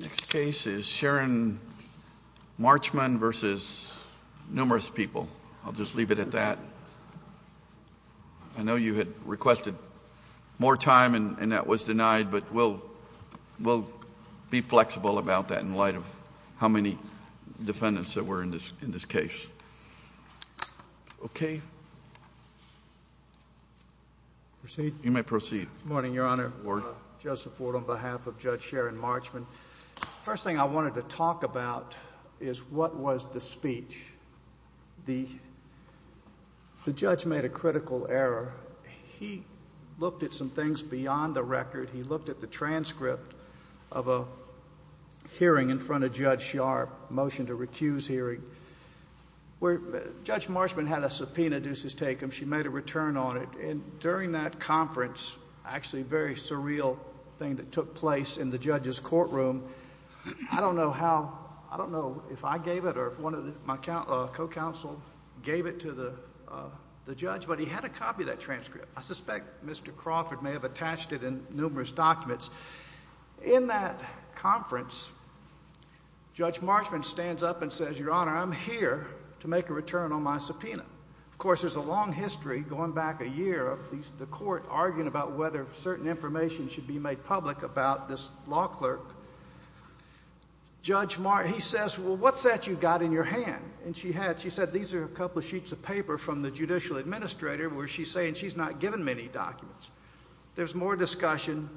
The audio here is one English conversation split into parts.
Next case is Sharon Marchman v. Numerous People. I'll just leave it at that. I know you had requested more time and that was denied, but we'll be flexible about that in light of how many defendants there were in this case. Okay. You may proceed. Judge Sharon Marchman Good morning, Your Honor. Joseph Ford on behalf of Judge Sharon Marchman. First thing I wanted to talk about is what was the speech. The judge made a critical error. He looked at some things beyond the record. He looked at the transcript of a hearing in front of Judge Sharp, motion to recuse hearing, where Judge Marchman had a subpoena ducis tecum. She made a return on it. And during that conference, actually a very surreal thing that took place in the judge's courtroom, I don't know how, I don't know if I gave it or if one of my co-counsel gave it to the judge, but he had a copy of that transcript. I suspect Mr. Crawford may have attached it in numerous documents. In that conference, Judge Marchman stands up and says, Your Honor, I'm here to make a return on my subpoena. Of course, there's a long history going back a year of the court arguing about whether certain information should be made public about this law clerk. Judge Marchman, he says, well, what's that you got in your hand? And she had, she said, these are a couple of sheets of paper from the judicial administrator where she's saying she's not given many documents. There's more discussion.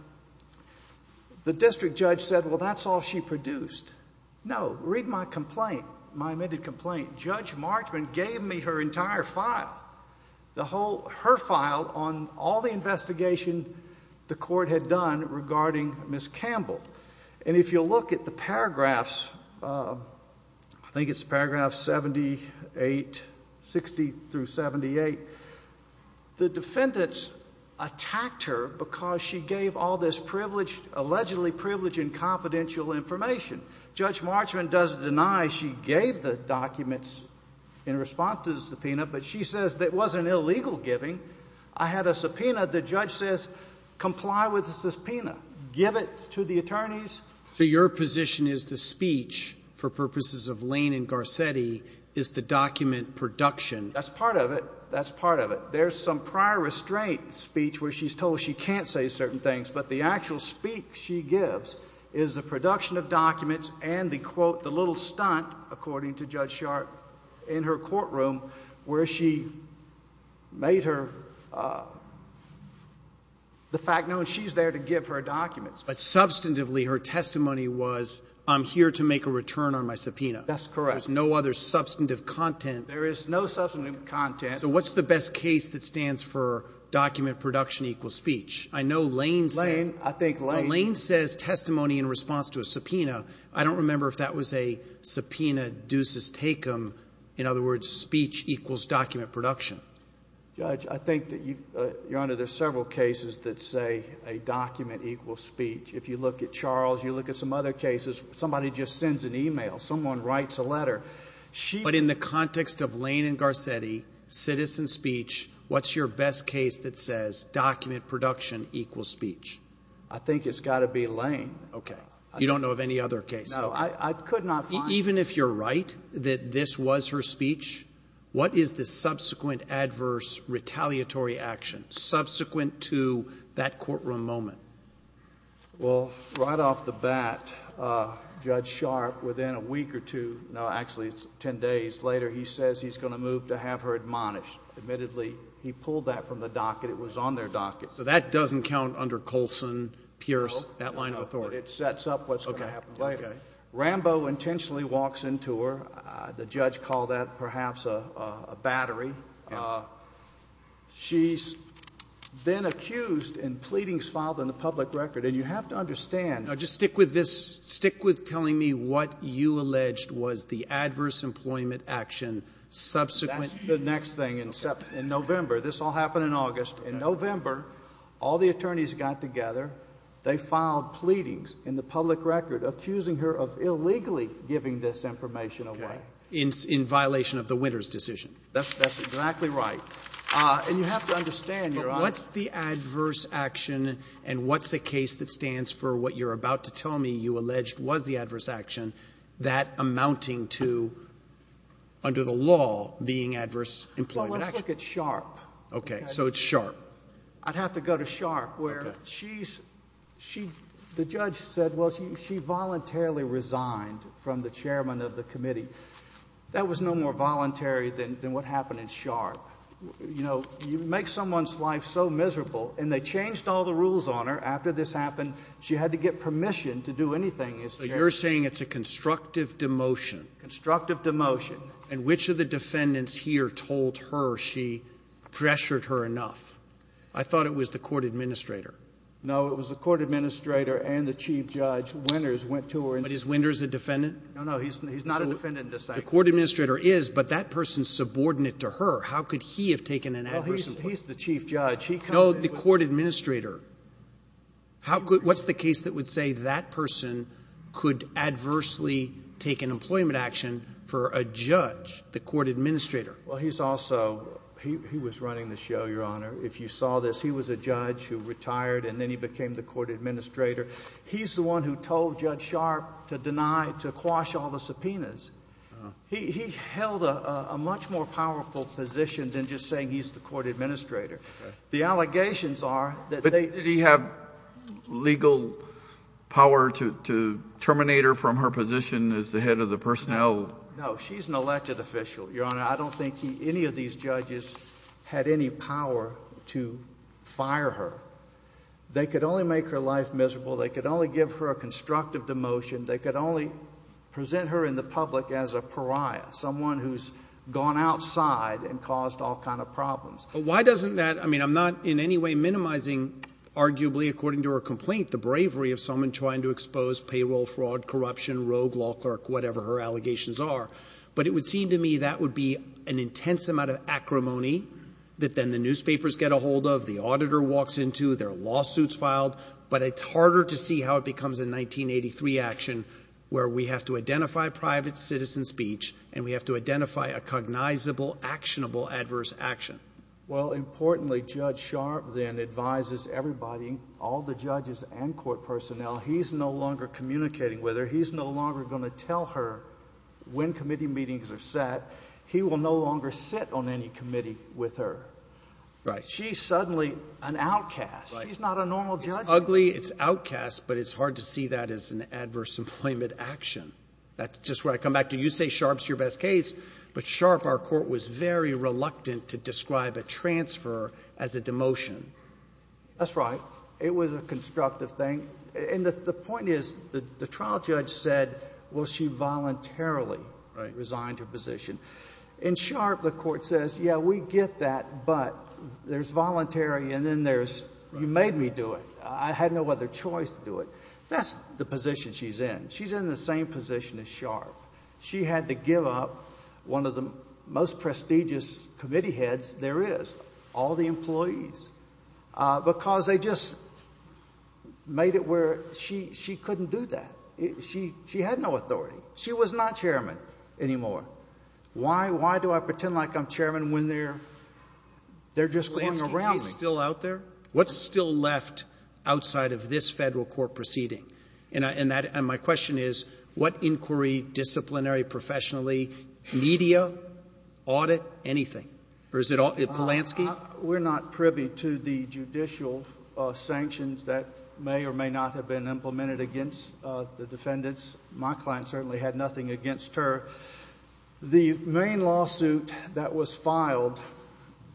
The district judge said, well, that's all she produced. No, read my complaint, my amended complaint. Judge Marchman gave me her entire file, the whole, her file on all the investigation the court had done regarding Ms. Campbell. And if you look at the paragraphs, I think it's paragraph 78, 60 through 78, the defendants attacked her because she gave all this privileged, allegedly privileged and confidential information. Judge Marchman doesn't deny she gave the documents in response to the subpoena, but she says that it wasn't illegal giving. I had a subpoena. The judge says, comply with the subpoena. Give it to the attorneys. So your position is the speech for purposes of Lane and Garcetti is the document production. That's part of it. That's part of it. There's some prior restraint speech where she's told she can't say certain things, but the actual speak she gives is the production of documents and the quote, the little stunt, according to Judge Marchman. But substantively, her testimony was, I'm here to make a return on my subpoena. That's correct. There's no other substantive content. There is no substantive content. So what's the best case that stands for document production equals speech? I know Lane Lane, I think Lane Lane says testimony in response to a subpoena. I don't remember if that was a subpoena deuces take them. In other words, speech equals document production. Judge, I think that you, uh, your honor, there's several cases that say a document equals speech. If you look at Charles, you look at some other cases, somebody just sends an email. Someone writes a letter. She, but in the context of Lane and Garcetti citizen speech, what's your best case that says document production equals speech? I think it's got to be Lane. Okay. You don't know of any other case. I could not even if you're right, that this was her retaliatory action subsequent to that courtroom moment. Well, right off the bat, uh, judge sharp within a week or two. No, actually it's 10 days later. He says he's going to move to have her admonished. Admittedly, he pulled that from the docket. It was on their docket. So that doesn't count under Colson Pierce, that line of authority. It sets up what's going to happen later. Rambo intentionally walks into her. Uh, the judge called that perhaps a, uh, a battery. Uh, she's then accused and pleadings filed in the public record. And you have to understand, just stick with this, stick with telling me what you alleged was the adverse employment action. Subsequent the next thing in November, this all happened in August and November, all the attorneys got together. They filed pleadings in the public record, accusing her of illegally giving this information away in violation of the winner's decision. That's, that's exactly right. Uh, and you have to understand your, what's the adverse action and what's the case that stands for what you're about to tell me you alleged was the adverse action that amounting to under the law being adverse employment. Let's look at sharp. Okay. So it's sharp. I'd have to go to sharp where she's, she, the judge said, well, she, she voluntarily resigned from the chairman of the committee. That was no more voluntary than, than what happened in sharp. You know, you make someone's life so miserable and they changed all the rules on her. After this happened, she had to get permission to do anything is you're saying it's a constructive demotion, constructive demotion, and which of the defendants here told her she pressured her enough. I thought it was the court administrator. No, it was the court administrator and the chief judge winners went to her and his winners, the defendant. No, no, he's not a defendant. The court administrator is, but that person's subordinate to her. How could he have taken an adverse? He's the chief judge. He called the court administrator. How could, what's the case that would say that person could adversely take an employment action for a judge, the court administrator. Well, he's also, he was running the show, your honor. If you saw this, he was a judge who retired and then he became the court administrator. He's the one who told judge sharp to deny, to quash all the subpoenas. He held a, a much more powerful position than just saying he's the court administrator. The allegations are that they have legal power to, to terminate her from her position as the head of the personnel. No, she's an elected official, your honor. I don't think he, any of these judges had any power to fire her. They could only make her life miserable. They could only give her a constructive demotion. They could only present her in the public as a pariah, someone who's gone outside and caused all kinds of problems. Why doesn't that, I mean, I'm not in any way minimizing arguably according to her complaint, the bravery of someone trying to expose payroll fraud, corruption, rogue law clerk, whatever her allegations are, but it would seem to me that would be an intense amount of acrimony that then the newspapers get a hold of the auditor walks into their lawsuits filed, but it's harder to see how it becomes a 1983 action where we have to identify private citizen speech and we have to identify a cognizable, actionable adverse action. Well, importantly, judge sharp then advises everybody, all the judges and court personnel, he's no longer communicating with her. He's no longer going to tell her when committee meetings are set, he will no longer sit on any committee with her. Right? She's suddenly an outcast. She's not a normal judge. It's ugly. It's outcast, but it's hard to see that as an adverse employment action. That's just where I come back to. You say sharp's your best case, but sharp, our court was very reluctant to describe a transfer as a demotion. That's right. It was a constructive thing. And the point is that the trial judge said, well, she voluntarily resigned her position in sharp. The court says, yeah, we get that, but there's voluntary. And then there's, you made me do it. I had no other choice to do it. That's the position she's in. She's in the same position as sharp. She had to give up one of the most prestigious committee heads. There is all the employees because they just made it where she, she couldn't do that. She, she had no authority. She was not chairman anymore. Why, why do I pretend like I'm chairman when they're, they're just going around still out there. What's still left outside of this federal court proceeding and I, and that, and my question is what inquiry disciplinary professionally media audit anything or is it all Polanski? We're not privy to the judicial sanctions that may or may not have been implemented against the defendants. My client certainly had nothing against her. The main lawsuit that was filed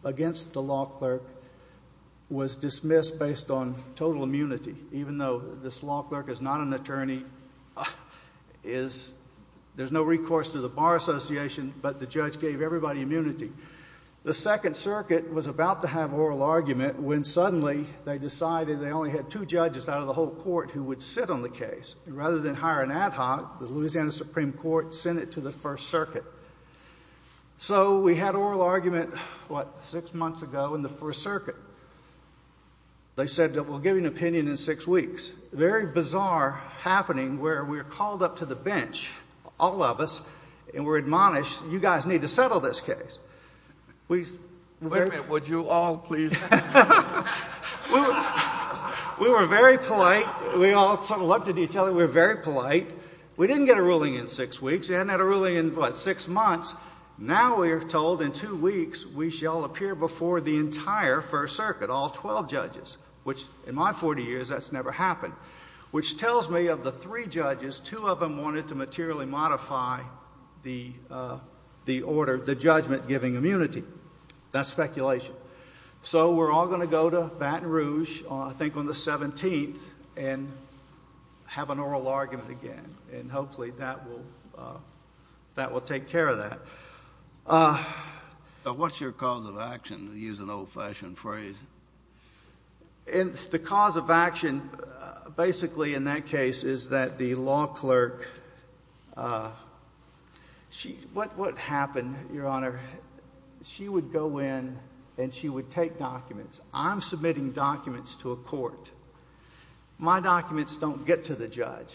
against the law clerk was dismissed based on total immunity. Even though this law clerk is not an attorney is there's no recourse to the bar association, but the judge gave everybody immunity. The second circuit was about to have oral argument when suddenly they decided they only had two judges out of the whole court who would sit on the case rather than hire an ad hoc, the Louisiana Supreme Court sent it to the first circuit. So we had oral argument, what, six months ago in the first circuit. They said that we'll give you an opinion in six weeks. Very bizarre happening where we were called up to the bench, all of us, and we're admonished, you guys need to settle this case. Wait a minute, would you all please? We were very polite. We all settled up to each other. We were very polite. We didn't get a ruling in six weeks. They hadn't had a ruling in what, six months. Now we are told in two weeks we shall appear before the entire first circuit, all 12 judges, which in my 40 years that's never happened, which tells me of the three of them wanted to materially modify the order, the judgment giving immunity. That's speculation. So we're all going to go to Baton Rouge, I think on the 17th, and have an oral argument again and hopefully that will take care of that. What's your cause of action, to use an old-fashioned phrase? The cause of action, basically in that case, is that the law clerk, what would happen, Your Honor, she would go in and she would take documents. I'm submitting documents to a court. My documents don't get to the judge.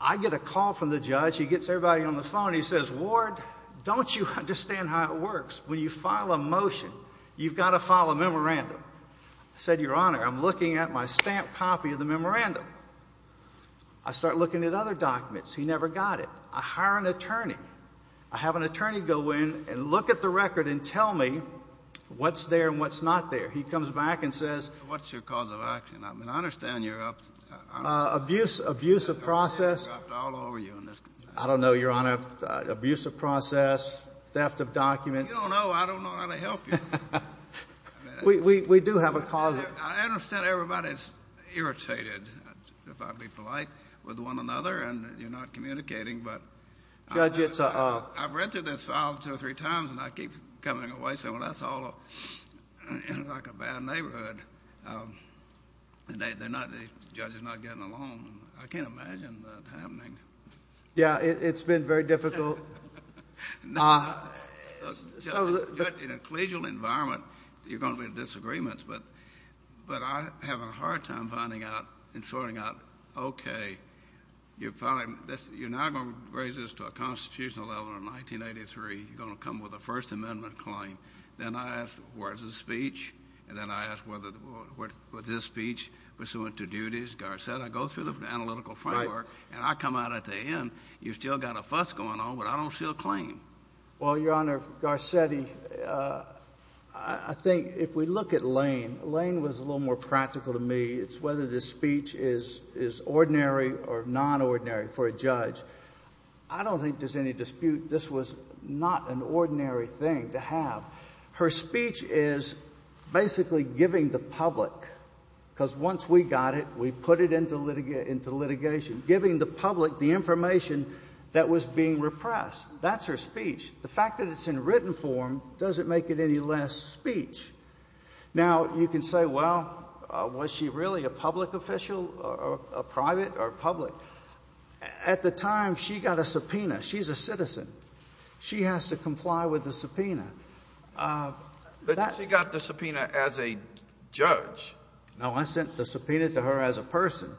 I get a call from the judge, he gets everybody on the phone, he says, Ward, don't you understand how it works? When you file a motion, you've got to file a memorandum. I said, Your Honor, I'm looking at my stamped copy of the memorandum. I start looking at other documents. He never got it. I hire an attorney. I have an attorney go in and look at the record and tell me what's there and what's not there. He comes back and says, What's your cause of action? I mean, I understand you're up to, I don't know, abuse of process. I don't know, Your Honor. Abuse of process, theft of documents. You don't know. I don't know how to help you. We do have a cause. I understand everybody's irritated, if I'm being polite, with one another and you're not communicating. I've read through this file two or three times and I keep coming away saying, Well, that's all like a bad neighborhood. The judge is not getting along. I can't imagine that happening. Yeah, it's been very difficult. In a collegial environment, you're going to be in disagreements, but I'm having a hard time finding out and sorting out, Okay, you're now going to raise this to a constitutional level in 1983. You're going to come with a First Amendment claim. Then I ask, Where's the speech? Then I ask, Was this speech pursuant to duties? The guard said, I go through the case. I don't see a claim. Well, Your Honor, Garcetti, I think if we look at Lane, Lane was a little more practical to me. It's whether this speech is ordinary or non-ordinary for a judge. I don't think there's any dispute. This was not an ordinary thing to have. Her speech is basically giving the public, because once we got it, we put it into litigation, giving the public the information that was being repressed. That's her speech. The fact that it's in written form doesn't make it any less speech. Now, you can say, Well, was she really a public official, a private or public? At the time, she got a subpoena. She's a citizen. She has to comply with the subpoena. But she got the subpoena as a judge. No, I didn't subpoena to her as a person.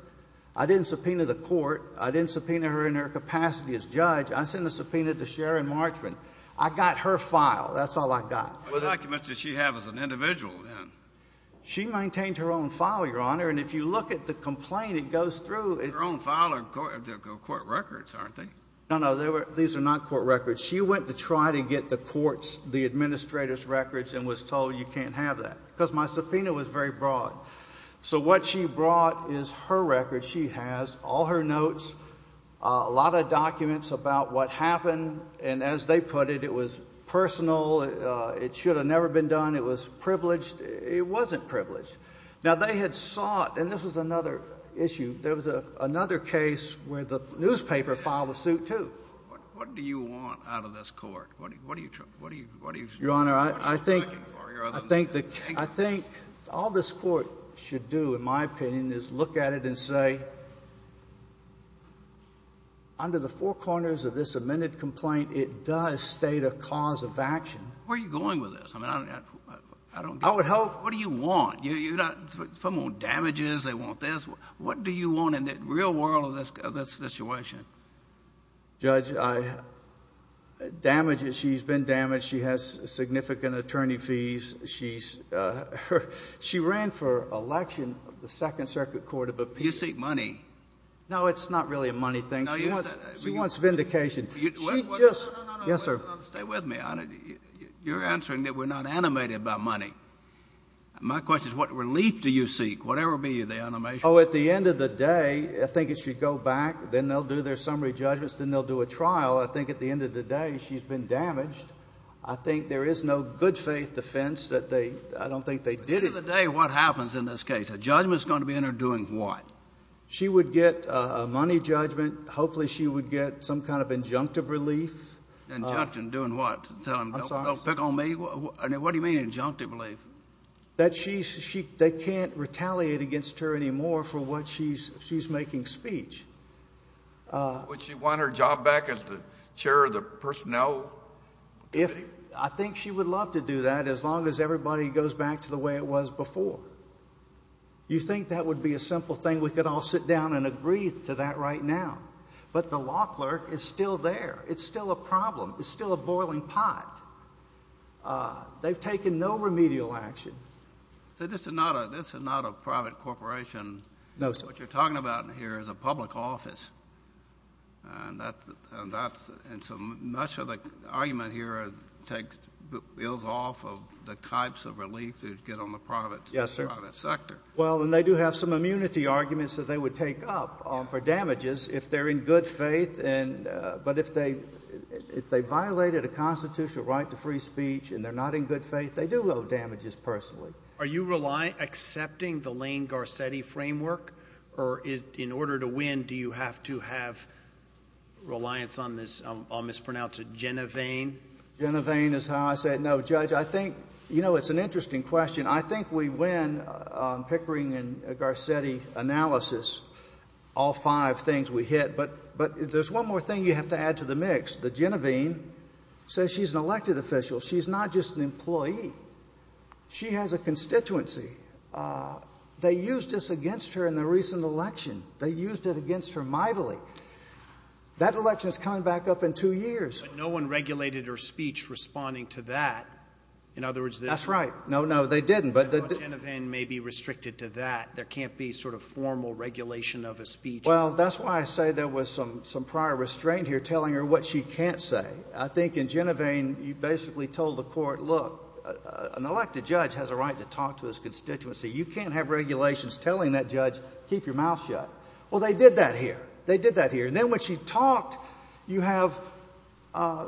I didn't subpoena the court. I didn't subpoena her in her capacity as judge. I sent the subpoena to Sharon Marchman. I got her file. That's all I got. What documents did she have as an individual then? She maintained her own file, Your Honor. And if you look at the complaint, it goes through her own file. They're court records, aren't they? No, no. These are not court records. She went to try to get the court's, the administrator's to have that, because my subpoena was very broad. So what she brought is her record. She has all her notes, a lot of documents about what happened. And as they put it, it was personal. It should have never been done. It was privileged. It wasn't privileged. Now, they had sought, and this was another issue, there was another case where the newspaper filed a suit, too. What do you want out of this court? What do you, what do you, what do you, Your Honor? Your Honor, I think, I think, I think all this court should do, in my opinion, is look at it and say, under the four corners of this amended complaint, it does state a cause of action. Where are you going with this? I mean, I don't, I don't get it. I would hope. What do you want? You're not, some want damages, they want this. What do you want in the real world of this, of this situation? Judge, I, damages, she's been damaged. She has significant attorney fees. She's, her, she ran for election of the Second Circuit Court of Appeals. You seek money. No, it's not really a money thing. No, you, She wants, she wants vindication. You, what, what, She just, No, no, no, no, no, no. Yes, sir. No, no, no, no, no, no. Stay with me, Your Honor. You're answering that we're not animated by money. My question is, what relief do you seek, whatever be the animation? Oh, at the end of the day, I think it should go back, then they'll do their summary judgments, then they'll do a trial. I think at the end of the day, she's been damaged. I think there is no good faith defense that they, I don't think they did it. But at the end of the day, what happens in this case? A judgment's going to be in her doing what? She would get a money judgment. Hopefully she would get some kind of injunctive relief. Injunctive, doing what? Tell him, don't pick on me? What do you mean, injunctive relief? That she's, she, they can't retaliate against her anymore for what she's, she's making speech. Would she want her job back as the chair of the personnel committee? I think she would love to do that as long as everybody goes back to the way it was before. You think that would be a simple thing? We could all sit down and agree to that right now. But the law clerk is still there. It's still a problem. It's still a boiling pot. They've taken no remedial action. So this is not a, this is not a private corporation. No, sir. What you're talking about here is a public office. And that, and that's, and so much of the argument here take, builds off of the types of relief you'd get on the private sector. Yes, sir. Well, and they do have some immunity arguments that they would take up for damages if they're in good faith. And, uh, but if they, if they violated a constitutional right to free speech and they're not in good faith, they do owe damages personally. Are you relying, accepting the Lane-Garcetti framework? Or in order to win, do you have to have reliance on this, I'll mispronounce it, Genovaine? Genovaine is how I say it. No, Judge, I think, you know, it's an interesting question. I think we win on Pickering and Garcetti analysis, all five things we hit. But, but there's one more thing you have to add to the mix. The Genovaine says she's an elected official. She's not just an employee. She has a constituency. Uh, they used this against her in the recent election. They used it against her mightily. That election is coming back up in two years. No one regulated her speech responding to that. In other words, that's right. No, no, they didn't. But the Genovaine may be restricted to that. There can't be sort of formal regulation of a speech. Well, that's why I say there was some, some prior restraint here telling her what she can't say. I think in Genovaine, you basically told the court, look, an elected judge has a right to talk to his constituency. You can't have regulations telling that judge, keep your mouth shut. Well, they did that here. They did that here. And then when she talked, you have, uh,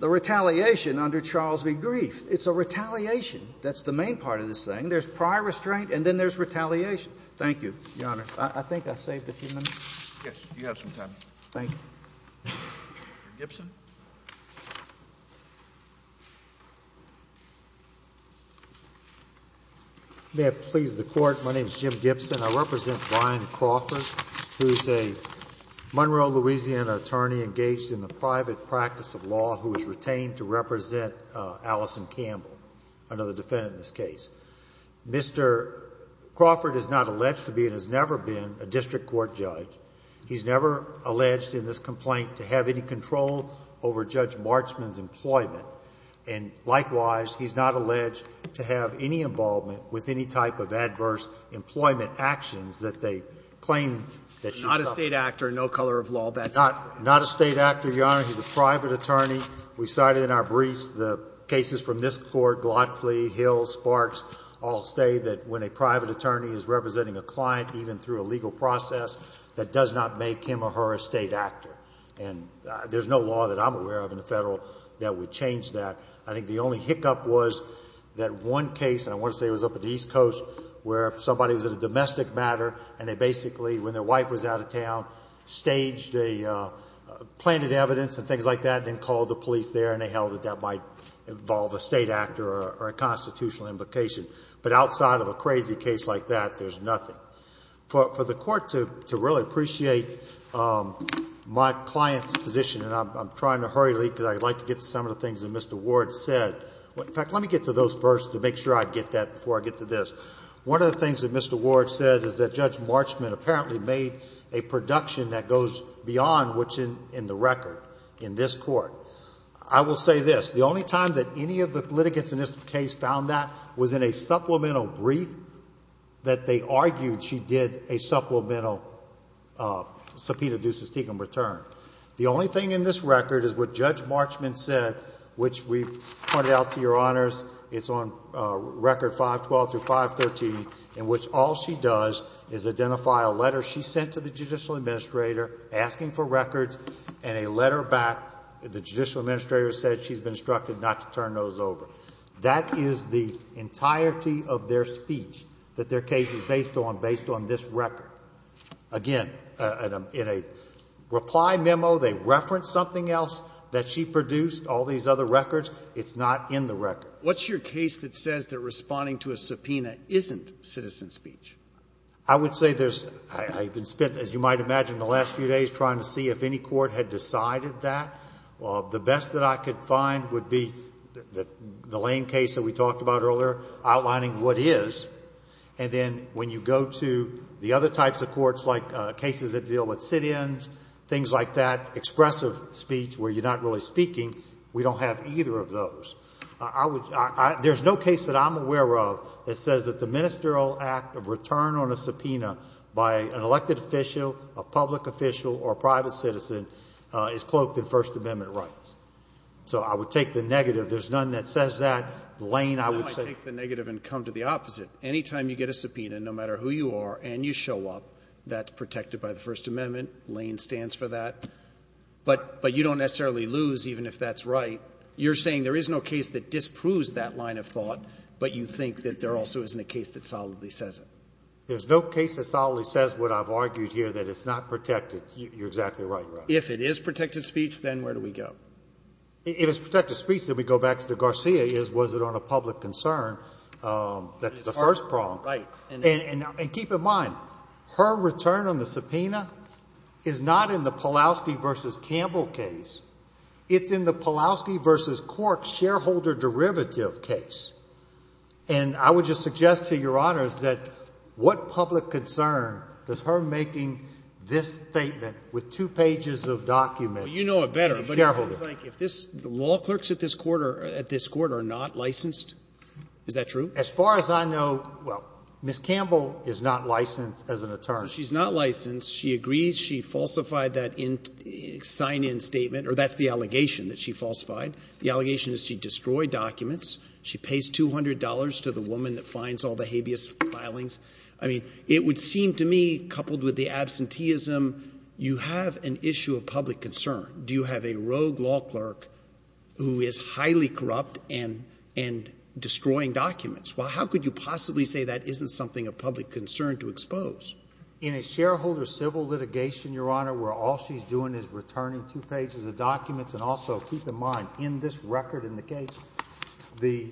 the retaliation under Charles B. Grief. It's a retaliation. That's the main part of this thing. There's prior restraint and then there's retaliation. Thank you, Your Honor. I think I saved a few minutes. Yes, you have some time. Thank you, Mr. Gibson. May it please the court. My name is Jim Gibson. I represent Brian Crawford, who's a Monroe, Louisiana attorney engaged in the private practice of law who was retained to represent, uh, Allison Campbell, another defendant in this case. Mr. Crawford is not alleged to be and has never been a district court judge. He's never alleged in this complaint to have any control over Judge Marchman's employment. And likewise, he's not alleged to have any involvement with any type of adverse employment actions that they claim that she's not a state actor, no color of law. That's not a state actor, Your Honor. He's a private attorney. We cited in our briefs the cases from this court, Glotfleet, Hill, Sparks, all say that when a private attorney is representing a client, even through a legal process, that does not make him or her a state actor. And there's no law that I'm aware of in the federal that would change that. I think the only hiccup was that one case, and I want to say it was up at East Coast, where somebody was in a planted evidence and things like that and called the police there and they held that that might involve a state actor or a constitutional implication. But outside of a crazy case like that, there's nothing. For the court to really appreciate my client's position, and I'm trying to hurry because I'd like to get to some of the things that Mr. Ward said. In fact, let me get to those first to make sure I get that before I get to this. One of the things that Mr. Ward said is that Judge Marchman apparently made a production that goes beyond what's in the record in this court. I will say this, the only time that any of the litigants in this case found that was in a supplemental brief that they argued she did a supplemental subpoena duces tecum return. The only thing in this record is what Judge Marchman said, which we pointed out to your honors, it's on record 512-513, in addition to the judicial administrator asking for records and a letter back. The judicial administrator said she's been instructed not to turn those over. That is the entirety of their speech that their case is based on, based on this record. Again, in a reply memo, they referenced something else that she produced, all these other records. It's not in the record. What's your case that says that responding to a subpoena isn't citizen speech? I would say there's, I've been spent, as you might imagine, the last few days trying to see if any court had decided that. The best that I could find would be the Lane case that we talked about earlier, outlining what is, and then when you go to the other types of courts like cases that deal with sit-ins, things like that, expressive speech where you're not really speaking, we don't have either of those. There's no case that I'm going to turn on a subpoena by an elected official, a public official, or a private citizen is cloaked in First Amendment rights. So I would take the negative. There's none that says that. Lane, I would say... Why don't I take the negative and come to the opposite? Anytime you get a subpoena, no matter who you are, and you show up, that's protected by the First Amendment. Lane stands for that. But you don't necessarily lose, even if that's right. You're saying there is no case that disproves that line of thought, but you think that there also isn't a case that solidly says it. There's no case that solidly says what I've argued here, that it's not protected. You're exactly right, Your Honor. If it is protected speech, then where do we go? If it's protected speech, then we go back to the Garcia case. Was it on a public concern that's the first prong? Right. And keep in mind, her return on the subpoena is not in the Pulaski v. Campbell case. It's in the Pulaski v. Cork shareholder derivative case. And I would just suggest to Your Honors that what public concern does her making this statement with two pages of documents? Well, you know it better. Shareholder. But it sounds like if this, the law clerks at this court are not licensed. Is that true? As far as I know, well, Ms. Campbell is not licensed as an attorney. She's not licensed. She agrees she falsified that sign-in statement, or that's the allegation that she falsified. The allegation is she destroyed documents. She pays $200 to the habeas filings. I mean, it would seem to me, coupled with the absenteeism, you have an issue of public concern. Do you have a rogue law clerk who is highly corrupt and destroying documents? Well, how could you possibly say that isn't something of public concern to expose? In a shareholder civil litigation, Your Honor, where all she's doing is returning two pages of documents, and also keep in mind, in this record in the case, the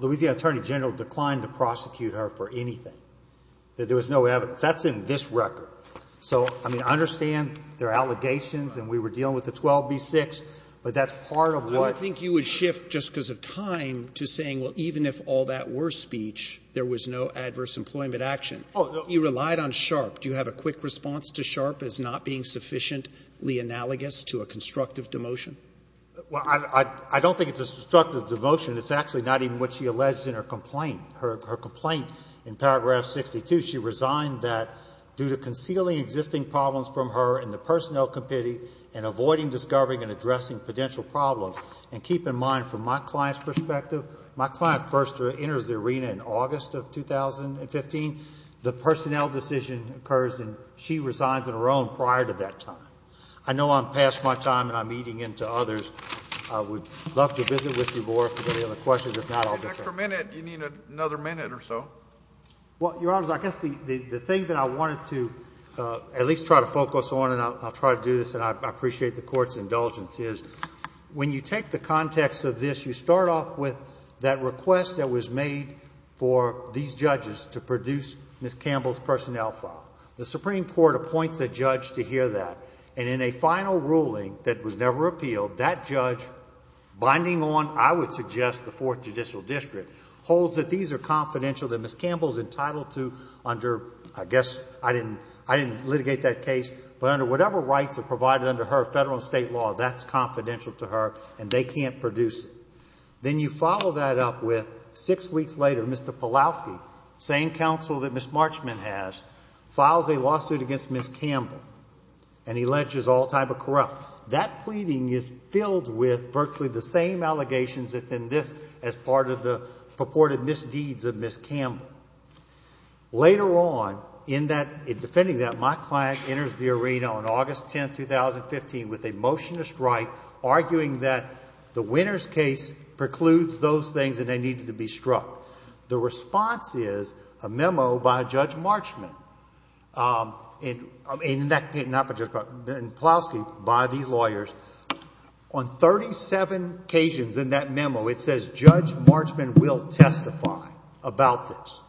Louisiana Attorney General declined to prosecute her for anything, that there was no evidence. That's in this record. So, I mean, I understand there are allegations, and we were dealing with the 12b-6, but that's part of what you're doing. I don't think you would shift, just because of time, to saying, well, even if all that were speech, there was no adverse employment action. Oh, no. You relied on Sharpe. Do you have a quick response to Sharpe as not being sufficiently analogous to a constructive demotion? Well, I don't think it's a constructive demotion. It's actually not even what she alleged in her complaint. Her complaint, in paragraph 62, she resigned that, due to concealing existing problems from her in the personnel committee, and avoiding discovering and addressing potential problems. And keep in mind, from my client's perspective, my client first enters the arena in August of 2015. The personnel decision occurs, and she resigns on her own prior to that time. I know I'm past my time, and I'm eating into others. I would love to visit with you more, if you have any other questions. If not, I'll be back. An extra minute. You need another minute or so. Well, Your Honors, I guess the thing that I wanted to at least try to focus on, and I'll try to do this, and I appreciate the Court's indulgence, is when you take the context of this, you start off with that request that was made for these judges to produce Ms. Campbell's personnel file. The Supreme Court appoints a judge to hear that. And in a final ruling that was never appealed, that judge, binding on, I would suggest, the fourth judicial district, holds that these are confidential, that Ms. Campbell is entitled to, under, I guess, I didn't litigate that case, but under whatever rights are provided under her federal and state law, that's confidential to her, and they can't produce it. Then you follow that up with, six weeks later, Mr. Pawlowski, same counsel that Ms. Marchman has, files a lawsuit against Ms. Campbell, and alleges all type of corrupt. That pleading is filled with virtually the same allegations that's in this, as part of the purported misdeeds of Ms. Campbell. Later on, in that, in defending that, my client enters the arena on August 10, 2015, with a motion to strike, arguing that the winner's case precludes those things that they needed to be struck. The response is, a memo by Judge Marchman, in that case, not by Judge Pawlowski, by these lawyers, on 37 occasions in that memo, it says, Judge Marchman will testify about this.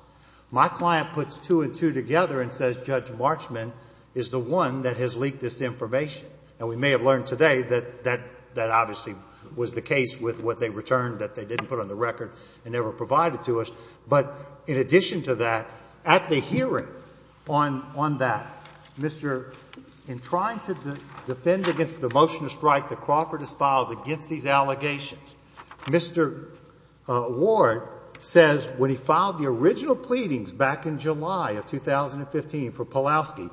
My client puts two and two together and says, Judge Marchman is the one that has leaked this information. And we may have learned today that, that, that obviously was the case with what they returned that they didn't put on the record and never provided to us. But, in addition to that, at the hearing on, on that, Mr. Pawlowski in trying to defend against the motion to strike that Crawford has filed against these allegations, Mr. Ward says, when he filed the original pleadings back in July of 2015 for Pawlowski,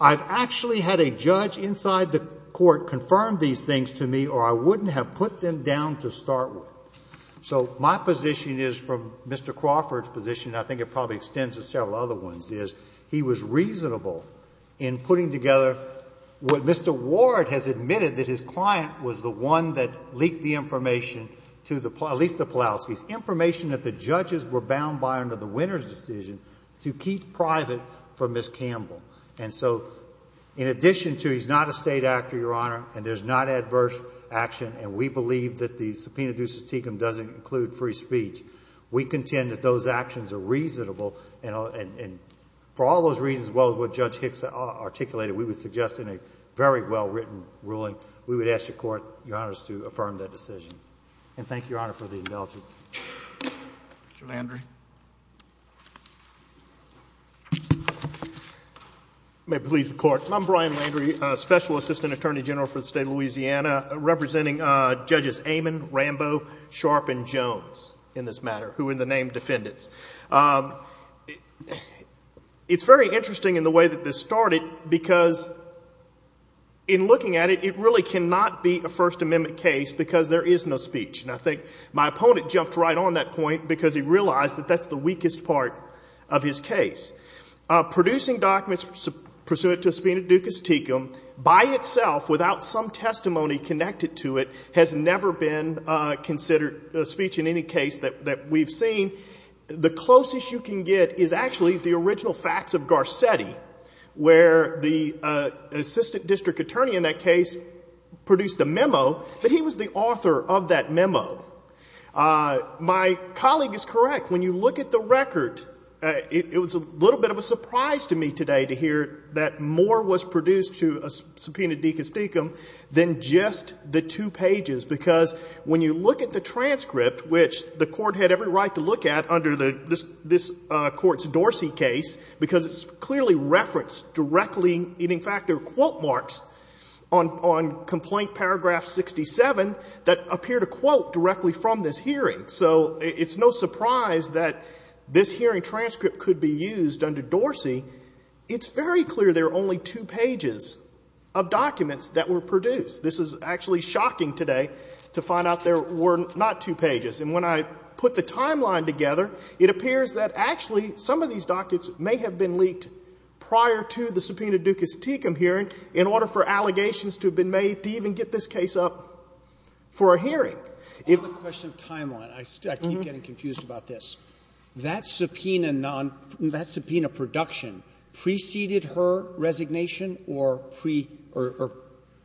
I've actually had a judge inside the court confirm these things to me or I wouldn't have put them down to start with. So, my position is, from Mr. Crawford's position, I think it probably extends to several other ones, is, he was reasonable in putting together what Mr. Ward has admitted that his client was the one that leaked the information to the, at least to Pawlowski's, information that the judges were bound by under the winner's decision to keep private from Ms. Campbell. And so, in addition to, he's not a state actor, Your Honor, and there's not adverse action, and we believe that the subpoena due susticum doesn't include free speech, we contend that those actions are reasonable, and for all those reasons, as well as what Judge Hicks articulated, we would suggest in a very well-written ruling, we would ask the court, Your Honor, to affirm that decision. And thank you, Your Honor, for the indulgence. Mr. Landry. If you may please the court, I'm Brian Landry, Special Assistant Attorney General for the State of Louisiana, representing Judges Amon, Rambo, Sharp, and Jones, in this matter, who in the name of defendants. It's very interesting in the way that this started, because in looking at it, it really cannot be a First Amendment case because there is no speech. And I think my opponent jumped right on that point, because he realized that that's the weakest part of his case. Producing documents pursuant to subpoena ducus tecum, by itself, without some testimony connected to it, has never been considered a speech in any case that we've seen. The closest you can get is actually the original facts of Garcetti, where the Assistant District Attorney in that case produced a memo, but he was the author of that memo. My colleague is correct. When you look at the record, it was a little bit of a surprise to me today to hear that more was produced to a subpoena ducus tecum than just the two pages, because when you look at the transcript, which the Court had every right to look at under this Court's Dorsey case, because it's clearly referenced directly, and in fact, there are quote marks on complaint paragraph 67 that appear to quote directly from this hearing. So it's no surprise that this hearing transcript could be used under Dorsey. It's very clear there are only two pages of documents that were produced. This is actually shocking today to find out there were not two pages. And when I put the timeline together, it appears that actually some of these documents may have been leaked prior to the subpoena ducus tecum hearing in order for allegations to have been made to even get this case up for a hearing. On the question of timeline, I keep getting confused about this. That subpoena production preceded her resignation or pre- Her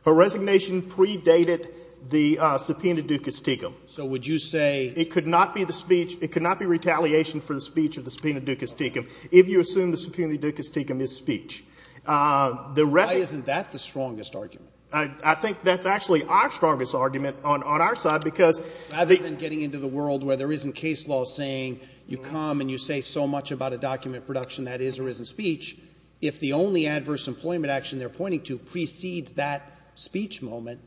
resignation predated the subpoena ducus tecum. So would you say It could not be the speech, it could not be retaliation for the speech of the subpoena ducus tecum if you assume the subpoena ducus tecum is speech. Why isn't that the strongest argument? I think that's actually our strongest argument on our side because Rather than getting into the world where there isn't case law saying you come and you say so much about a document production that is or isn't speech, if the only adverse employment action they're pointing to precedes that speech moment.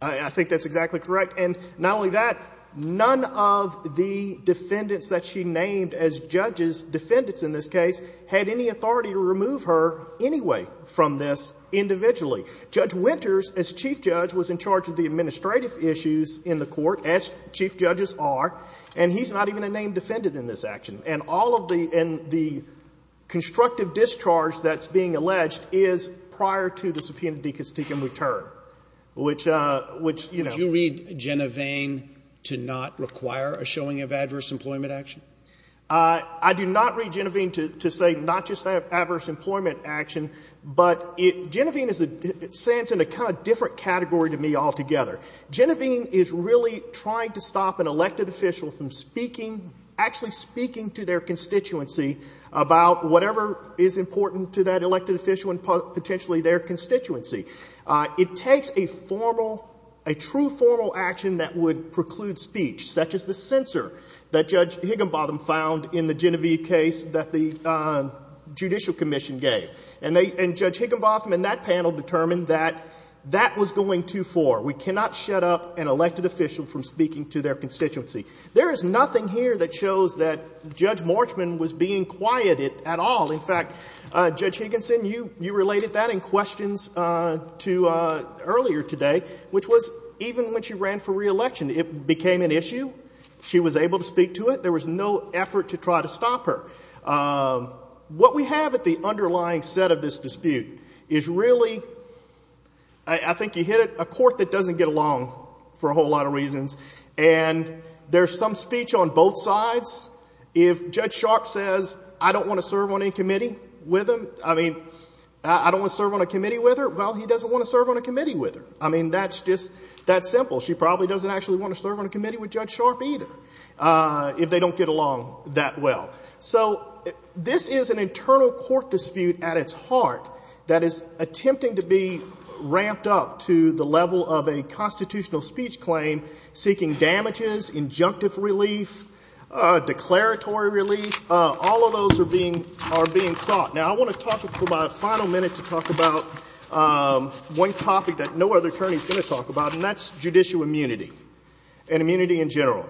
I think that's exactly correct. And not only that, none of the defendants that she named as judges, defendants in this case, had any authority to remove her anyway from this individually. Judge Winters, as chief judge, was in charge of the administrative issues in the court as chief judges are, and he's not even a name defended in this action. And all of the constructive discharge that's being alleged is prior to the subpoena ducus tecum return, which Would you read Genovaine to not require a showing of adverse employment action? I do not read Genovaine to say not just that adverse employment action, but Genovaine stands in a kind of different category to me altogether. Genovaine is really trying to stop an elected official from speaking, actually speaking to their constituency about whatever is important to that elected official and potentially their constituency. It takes a formal, a true formal action that would preclude speech, such as the censor that Judge Higginbotham found in the Genovaine case that the Judicial Commission gave. And Judge Higginbotham and that panel determined that that was going too far. We cannot shut up an elected official from speaking to their constituency. There is nothing here that shows that Judge Morschman was being quieted at all. In fact, Judge Higginson, you related that in questions to earlier today, which was even when she ran for reelection, it became an issue. She was able to speak to it. There was no effort to try to stop her. What we have at the underlying set of this dispute is really, I think you hit it, a court that doesn't get along for a whole lot of reasons. And there's some speech on both sides. If Judge Sharp says, I don't want to serve on any committee with him, I mean, I don't want to serve on a committee with her, well, he doesn't want to serve on a committee with her. I mean, that's just, that's simple. She probably doesn't actually want to serve on a committee with Judge Sharp either if they don't get along that well. So this is an internal court dispute at its heart that is attempting to be ramped up to the level of a constitutional speech claim, seeking damages, injunctive relief, declaratory relief. All of those are being sought. Now, I want to talk for my final minute to talk about one topic that no other attorney is going to talk about, and that's judicial immunity and immunity in general.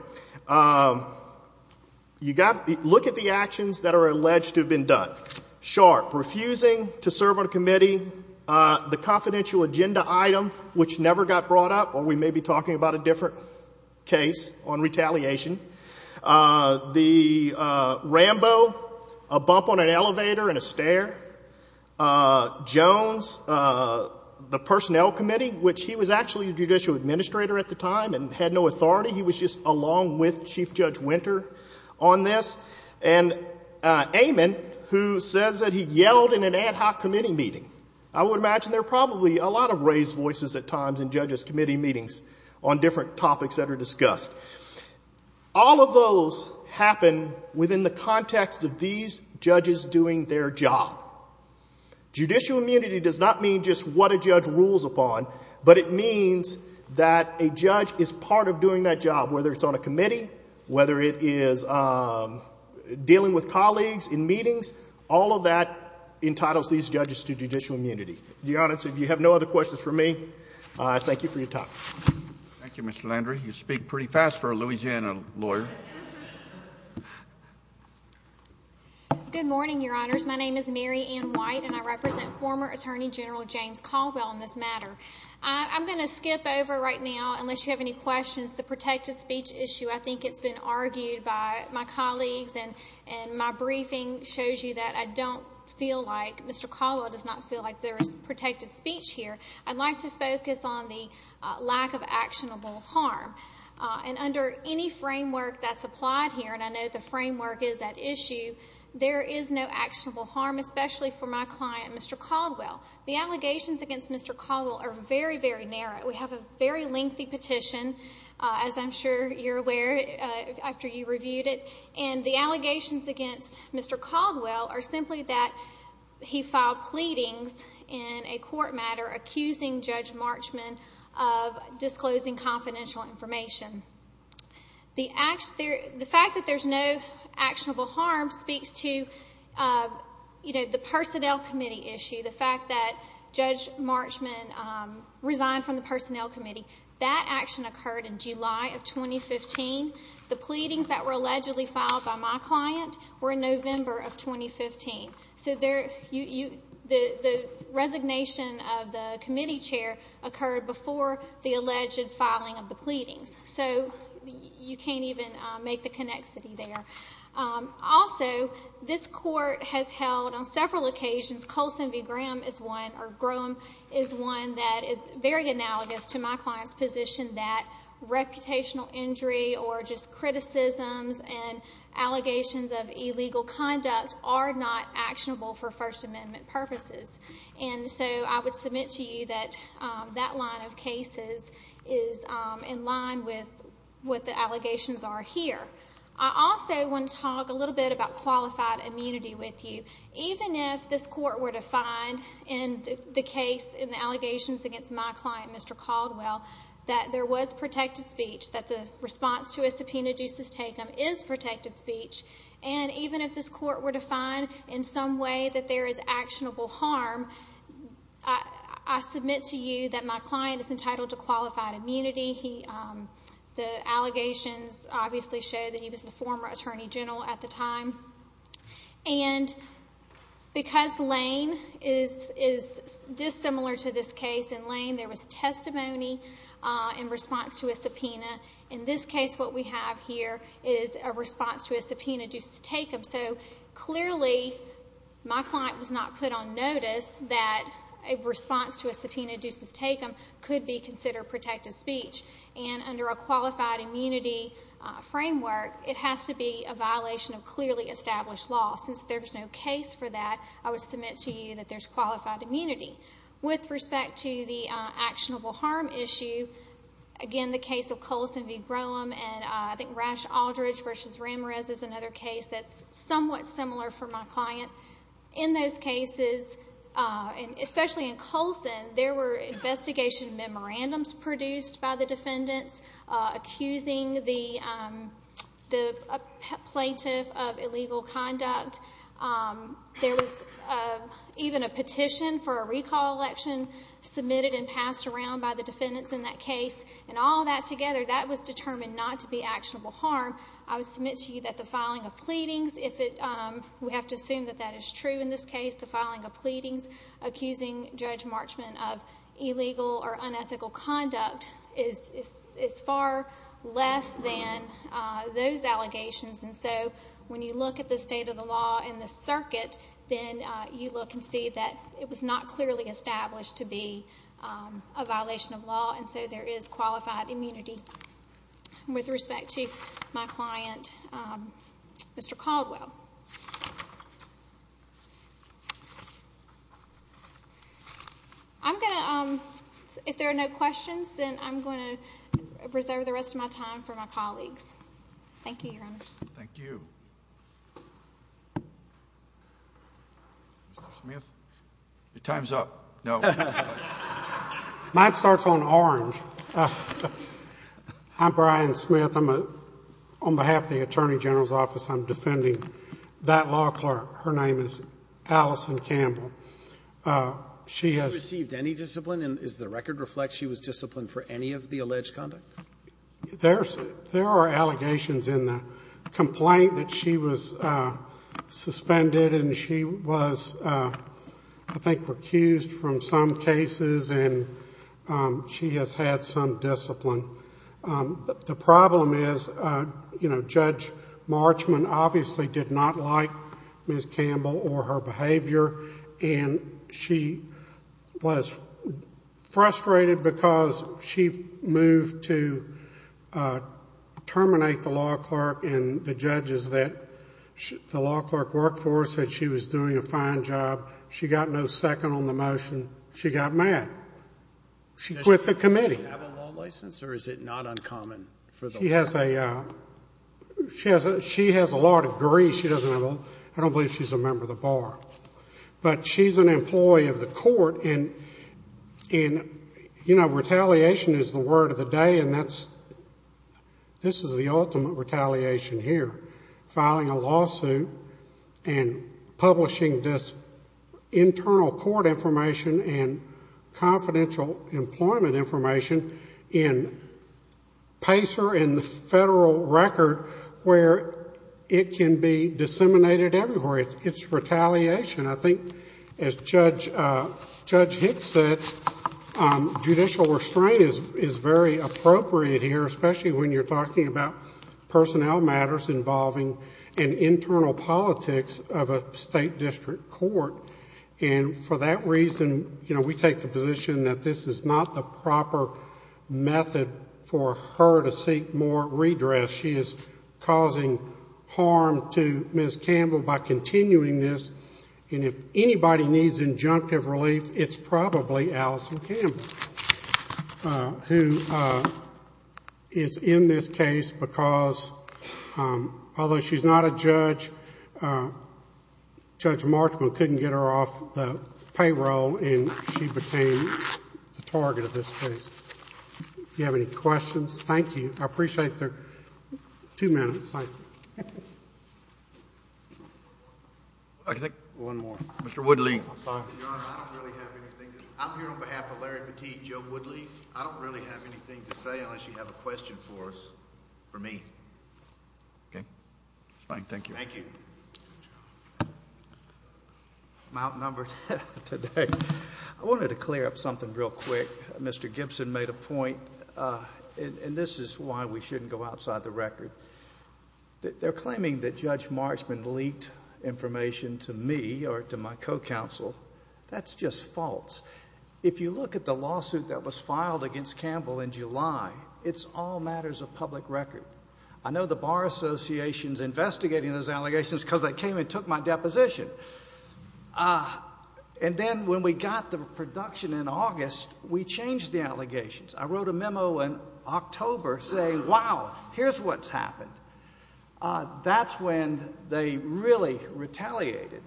You got, look at the actions that are alleged to have been done. Sharp, refusing to serve on a committee, the confidential agenda item, which never got brought up, or we may be talking about a different case on retaliation. The Rambo, a bump on an elevator and a stair. Jones, the personnel committee, which he was actually a judicial administrator at the time and had no authority. He was just along with Chief Judge Winter on this. And Amon, who says that he yelled in an ad hoc committee meeting. I would imagine there are probably a lot of raised voices at times in judges' committee meetings on different topics that are discussed. All of those happen within the context of these judges doing their job. Judicial immunity does not mean just what a judge rules upon, but it means that a judge is part of doing that job, whether it's on a committee, whether it is dealing with colleagues in meetings, all of that entitles these judges to judicial immunity. Your Honor, so if you have no other questions for me, thank you for your time. Thank you, Mr. Landry. You speak pretty fast for a Louisiana lawyer. Good morning, Your Honors. My name is Mary Ann White, and I represent former Attorney General James Caldwell on this matter. I'm going to skip over right now, unless you have any questions, the protected speech issue. I think it's been argued by my colleagues, and my briefing shows you that I don't feel like, Mr. Caldwell does not feel like there is protected speech here. I'd like to focus on the lack of actionable harm. And under any framework that's applied here, and I know the framework is at issue, there is no actionable harm, especially for my client, Mr. Caldwell. The allegations against Mr. Caldwell are very, very narrow. We have a very lengthy petition, as I'm sure you're aware, after you reviewed it. And the allegations against Mr. Caldwell are simply that he filed pleadings in a court matter accusing Judge Marchman of disclosing confidential information. The fact that there's no actionable harm speaks to, you know, the personnel committee issue, the fact that Judge Marchman resigned from the personnel committee. That action occurred in July of 2015. The pleadings that were allegedly filed by my client were in November of 2015. So the resignation of the committee chair occurred before the alleged filing of the plea. So you can't even make the connexity there. Also, this court has held on several occasions, Colson v. Graham is one, or Graham is one that is very analogous to my client's position that reputational injury or just criticisms and allegations of illegal conduct are not actionable for First Amendment purposes. And so I would submit to you that that line of cases is in line with what the allegations are here. I also want to talk a little bit about qualified immunity with you. Even if this court were to find in the case, in the allegations against my client, Mr. Caldwell, that there was protected speech, that the response to a subpoena ducis tecum is protected speech, and even if this court were to find in some way that there is actionable harm, I submit to you that my client is entitled to qualified immunity. The allegations obviously show that he was the former attorney general at the time. And because Lane is dissimilar to this case, in Lane there was testimony in response to a subpoena. In this case what we have here is a response to a subpoena ducis tecum. So clearly my client was not put on notice that a response to a subpoena ducis tecum could be considered protected speech. And under a qualified immunity framework, it has to be a violation of clearly established law. Since there is no case for that, I would submit to you that there is qualified immunity. With respect to the actionable harm issue, again the case of Coulson v. Graham and I think Rash Aldridge v. Ramirez is another case that is somewhat similar for my client. In those cases, especially in Coulson, there were investigation memorandums produced by the defendants accusing the plaintiff of illegal conduct. There was even a petition for a recall election submitted and passed around by the defendants in that case. And all that together, that was determined not to be actionable harm. I would submit to you that the filing of pleadings, we have to assume that that is true in this case, the filing of pleadings accusing Judge Marchment of illegal or unethical conduct is far less than those allegations. And so when you look at the state of the law and the circuit, then you look and see that it was not clearly established to be a violation of law, and so there is qualified immunity. With respect to my client, Mr. Caldwell. If there are no questions, then I'm going to reserve the rest of my time for my colleagues. Thank you, Your Honors. Thank you. Mr. Smith? Your time's up. No. Mine starts on orange. I'm Brian Smith. On behalf of the Attorney General's Office, I'm defending that law clerk. Her name is Allison Campbell. She has Received any discipline, and does the record reflect she was disciplined for any of the alleged conduct? There are allegations in the complaint that she was suspended and she was, I think, recused from some cases, and she has had some discipline. The problem is, you know, Judge Marchment obviously did not like Ms. Campbell or her behavior, and she was frustrated because she moved to terminate the law clerk and the judges that the law clerk worked for said she was doing a fine job. She got no second on the motion. She got mad. She quit the committee. Does she have a law license, or is it not uncommon for the law clerk? She has a law degree. I don't believe she's a member of the bar. But she's an employee of the court, and, you know, retaliation is the word of the day, and this is the ultimate distinguishing this internal court information and confidential employment information in PACER and the federal record where it can be disseminated everywhere. It's retaliation. I think, as Judge Hicks said, judicial restraint is very appropriate here, especially when you're talking about personnel matters involving an internal politics of a state district court. And for that reason, you know, we take the position that this is not the proper method for her to seek more redress. She is causing harm to Ms. Campbell by continuing this, and if anybody needs injunctive relief, it's probably Allison Campbell, who is in this case. Because, although she's not a judge, Judge Markman couldn't get her off the payroll, and she became the target of this case. Do you have any questions? Thank you. I appreciate the two minutes. Thank you. I think one more. Mr. Woodley. I'm sorry. Your Honor, I don't really have anything to say. I'm here on behalf of Larry Petit, Joe Morris, for me. Okay. Fine. Thank you. Thank you. I'm outnumbered today. I wanted to clear up something real quick. Mr. Gibson made a point, and this is why we shouldn't go outside the record. They're claiming that Judge Markman leaked information to me or to my co-counsel. That's just false. If you look at the lawsuit that was filed against Campbell in July, it's all matters of public record. I know the Bar Association's investigating those allegations because they came and took my deposition. And then when we got the production in August, we changed the allegations. I wrote a memo in October saying, wow, here's what's happened. That's when they really retaliated.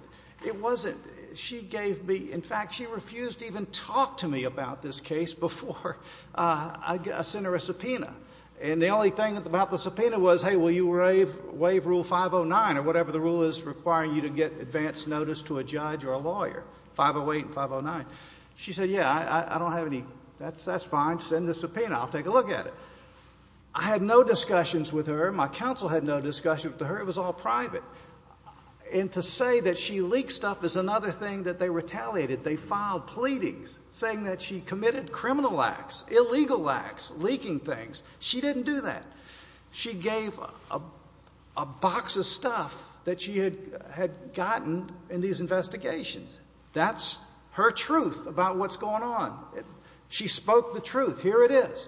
It wasn't she gave me, in fact, she refused to even talk to me about this case before I sent her a subpoena. And the only thing about the subpoena was, hey, will you waive Rule 509 or whatever the rule is requiring you to get advance notice to a judge or a lawyer, 508 and 509. She said, yeah, I don't have any. That's fine. Send the subpoena. I'll take a look at it. I had no discussions with her. My counsel had no discussion with her. It was all private. And to say that she leaked stuff is another thing that they retaliated. They filed pleadings saying that she committed criminal acts, illegal acts, leaking things. She didn't do that. She gave a box of stuff that she had gotten in these investigations. That's her truth about what's going on. She spoke the truth. Here it is.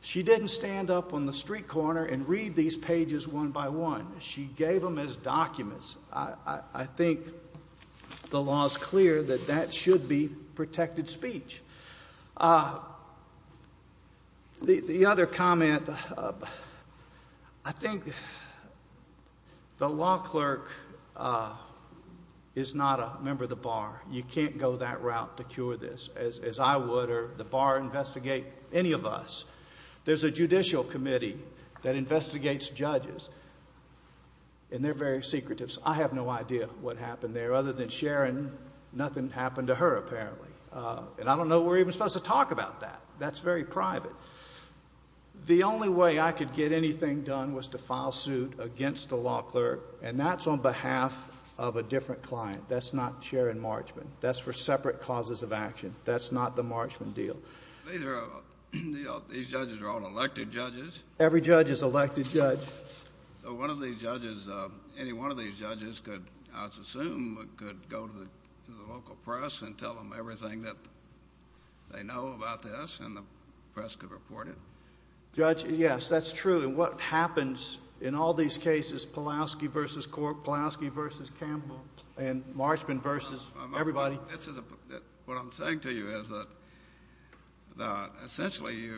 She didn't stand up on the street corner and read these pages one by one. She gave them as documents. I think the law is clear that that should be protected speech. The other comment, I think the law clerk is not a member of the bar. You can't go that route to cure this as I would or the bar investigate any of us. There's a judicial committee that investigates judges, and they're very secretive. I have no idea what happened there. Other than Sharon, nothing happened to her apparently. And I don't know we're even supposed to talk about that. That's very private. The only way I could get anything done was to file suit against the law clerk, and that's on behalf of a different client. That's not Sharon Marchman. That's for separate causes of action. That's not the Marchman deal. These judges are all elected judges. Every judge is elected judge. Any one of these judges, I assume, could go to the local press and tell them everything that they know about this, and the press could report it? Yes, that's true. What happens in all these cases, Pulaski versus Cork, Pulaski versus Campbell, and Marchman versus everybody? What I'm saying to you is that essentially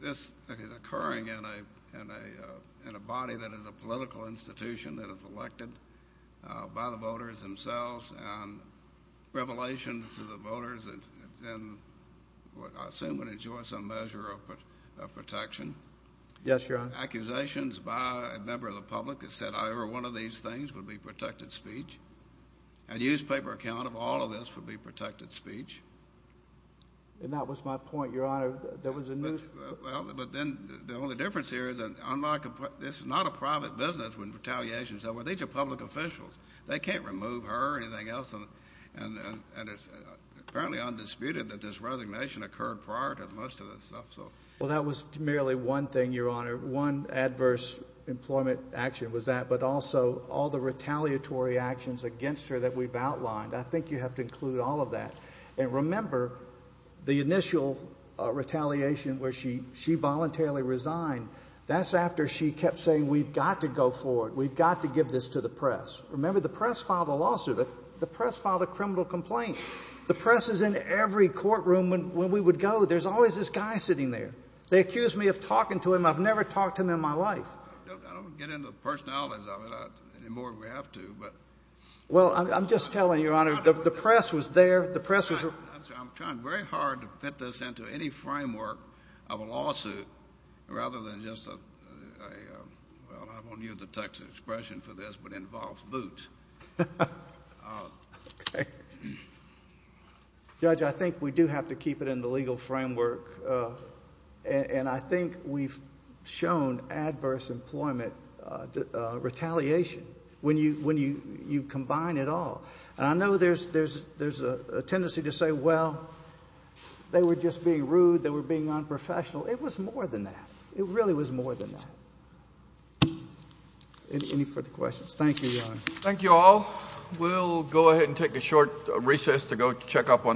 this is occurring in a body that is a political institution that is elected by the voters themselves, and revelations to the voters, and I assume would enjoy some measure of protection. Yes, Your Honor. Accusations by a member of the public that said either one of these things would be protected speech, a newspaper account of all of this would be protected speech. And that was my point, Your Honor. There was a news... Well, but then the only difference here is that this is not a private business when retaliation is over. These are public officials. They can't remove her or anything else, and it's apparently undisputed that this resignation occurred prior to most of this stuff, so... Well, that was merely one thing, Your Honor. One adverse employment action was that, but also all the retaliatory actions against her that we've outlined. I think you have to include all of that. And remember, the initial retaliation where she voluntarily resigned, that's after she kept saying, we've got to go forward. We've got to give this to the press. Remember, the press filed a lawsuit. The press filed a criminal complaint. The press is in every courtroom when we would go. There's always this guy sitting there. They accused me of talking to him. I've never talked to him in my life. I don't get into the personalities of it anymore if we have to, but... Well, I'm just telling you, Your Honor, the press was there. The press was... I'm trying very hard to fit this into any framework of a lawsuit rather than just a... Well, I won't use the text expression for this, but involves boots. Okay. Judge, I think we do have to keep it in the legal framework, and I think we've shown adverse employment retaliation when you combine it all. And I know there's a tendency to say, well, they were just being rude. They were being unprofessional. It was more than that. It really was more than that. Any further questions? Thank you, Your Honor. Thank you all. We'll go ahead and take a short recess to go check up on our...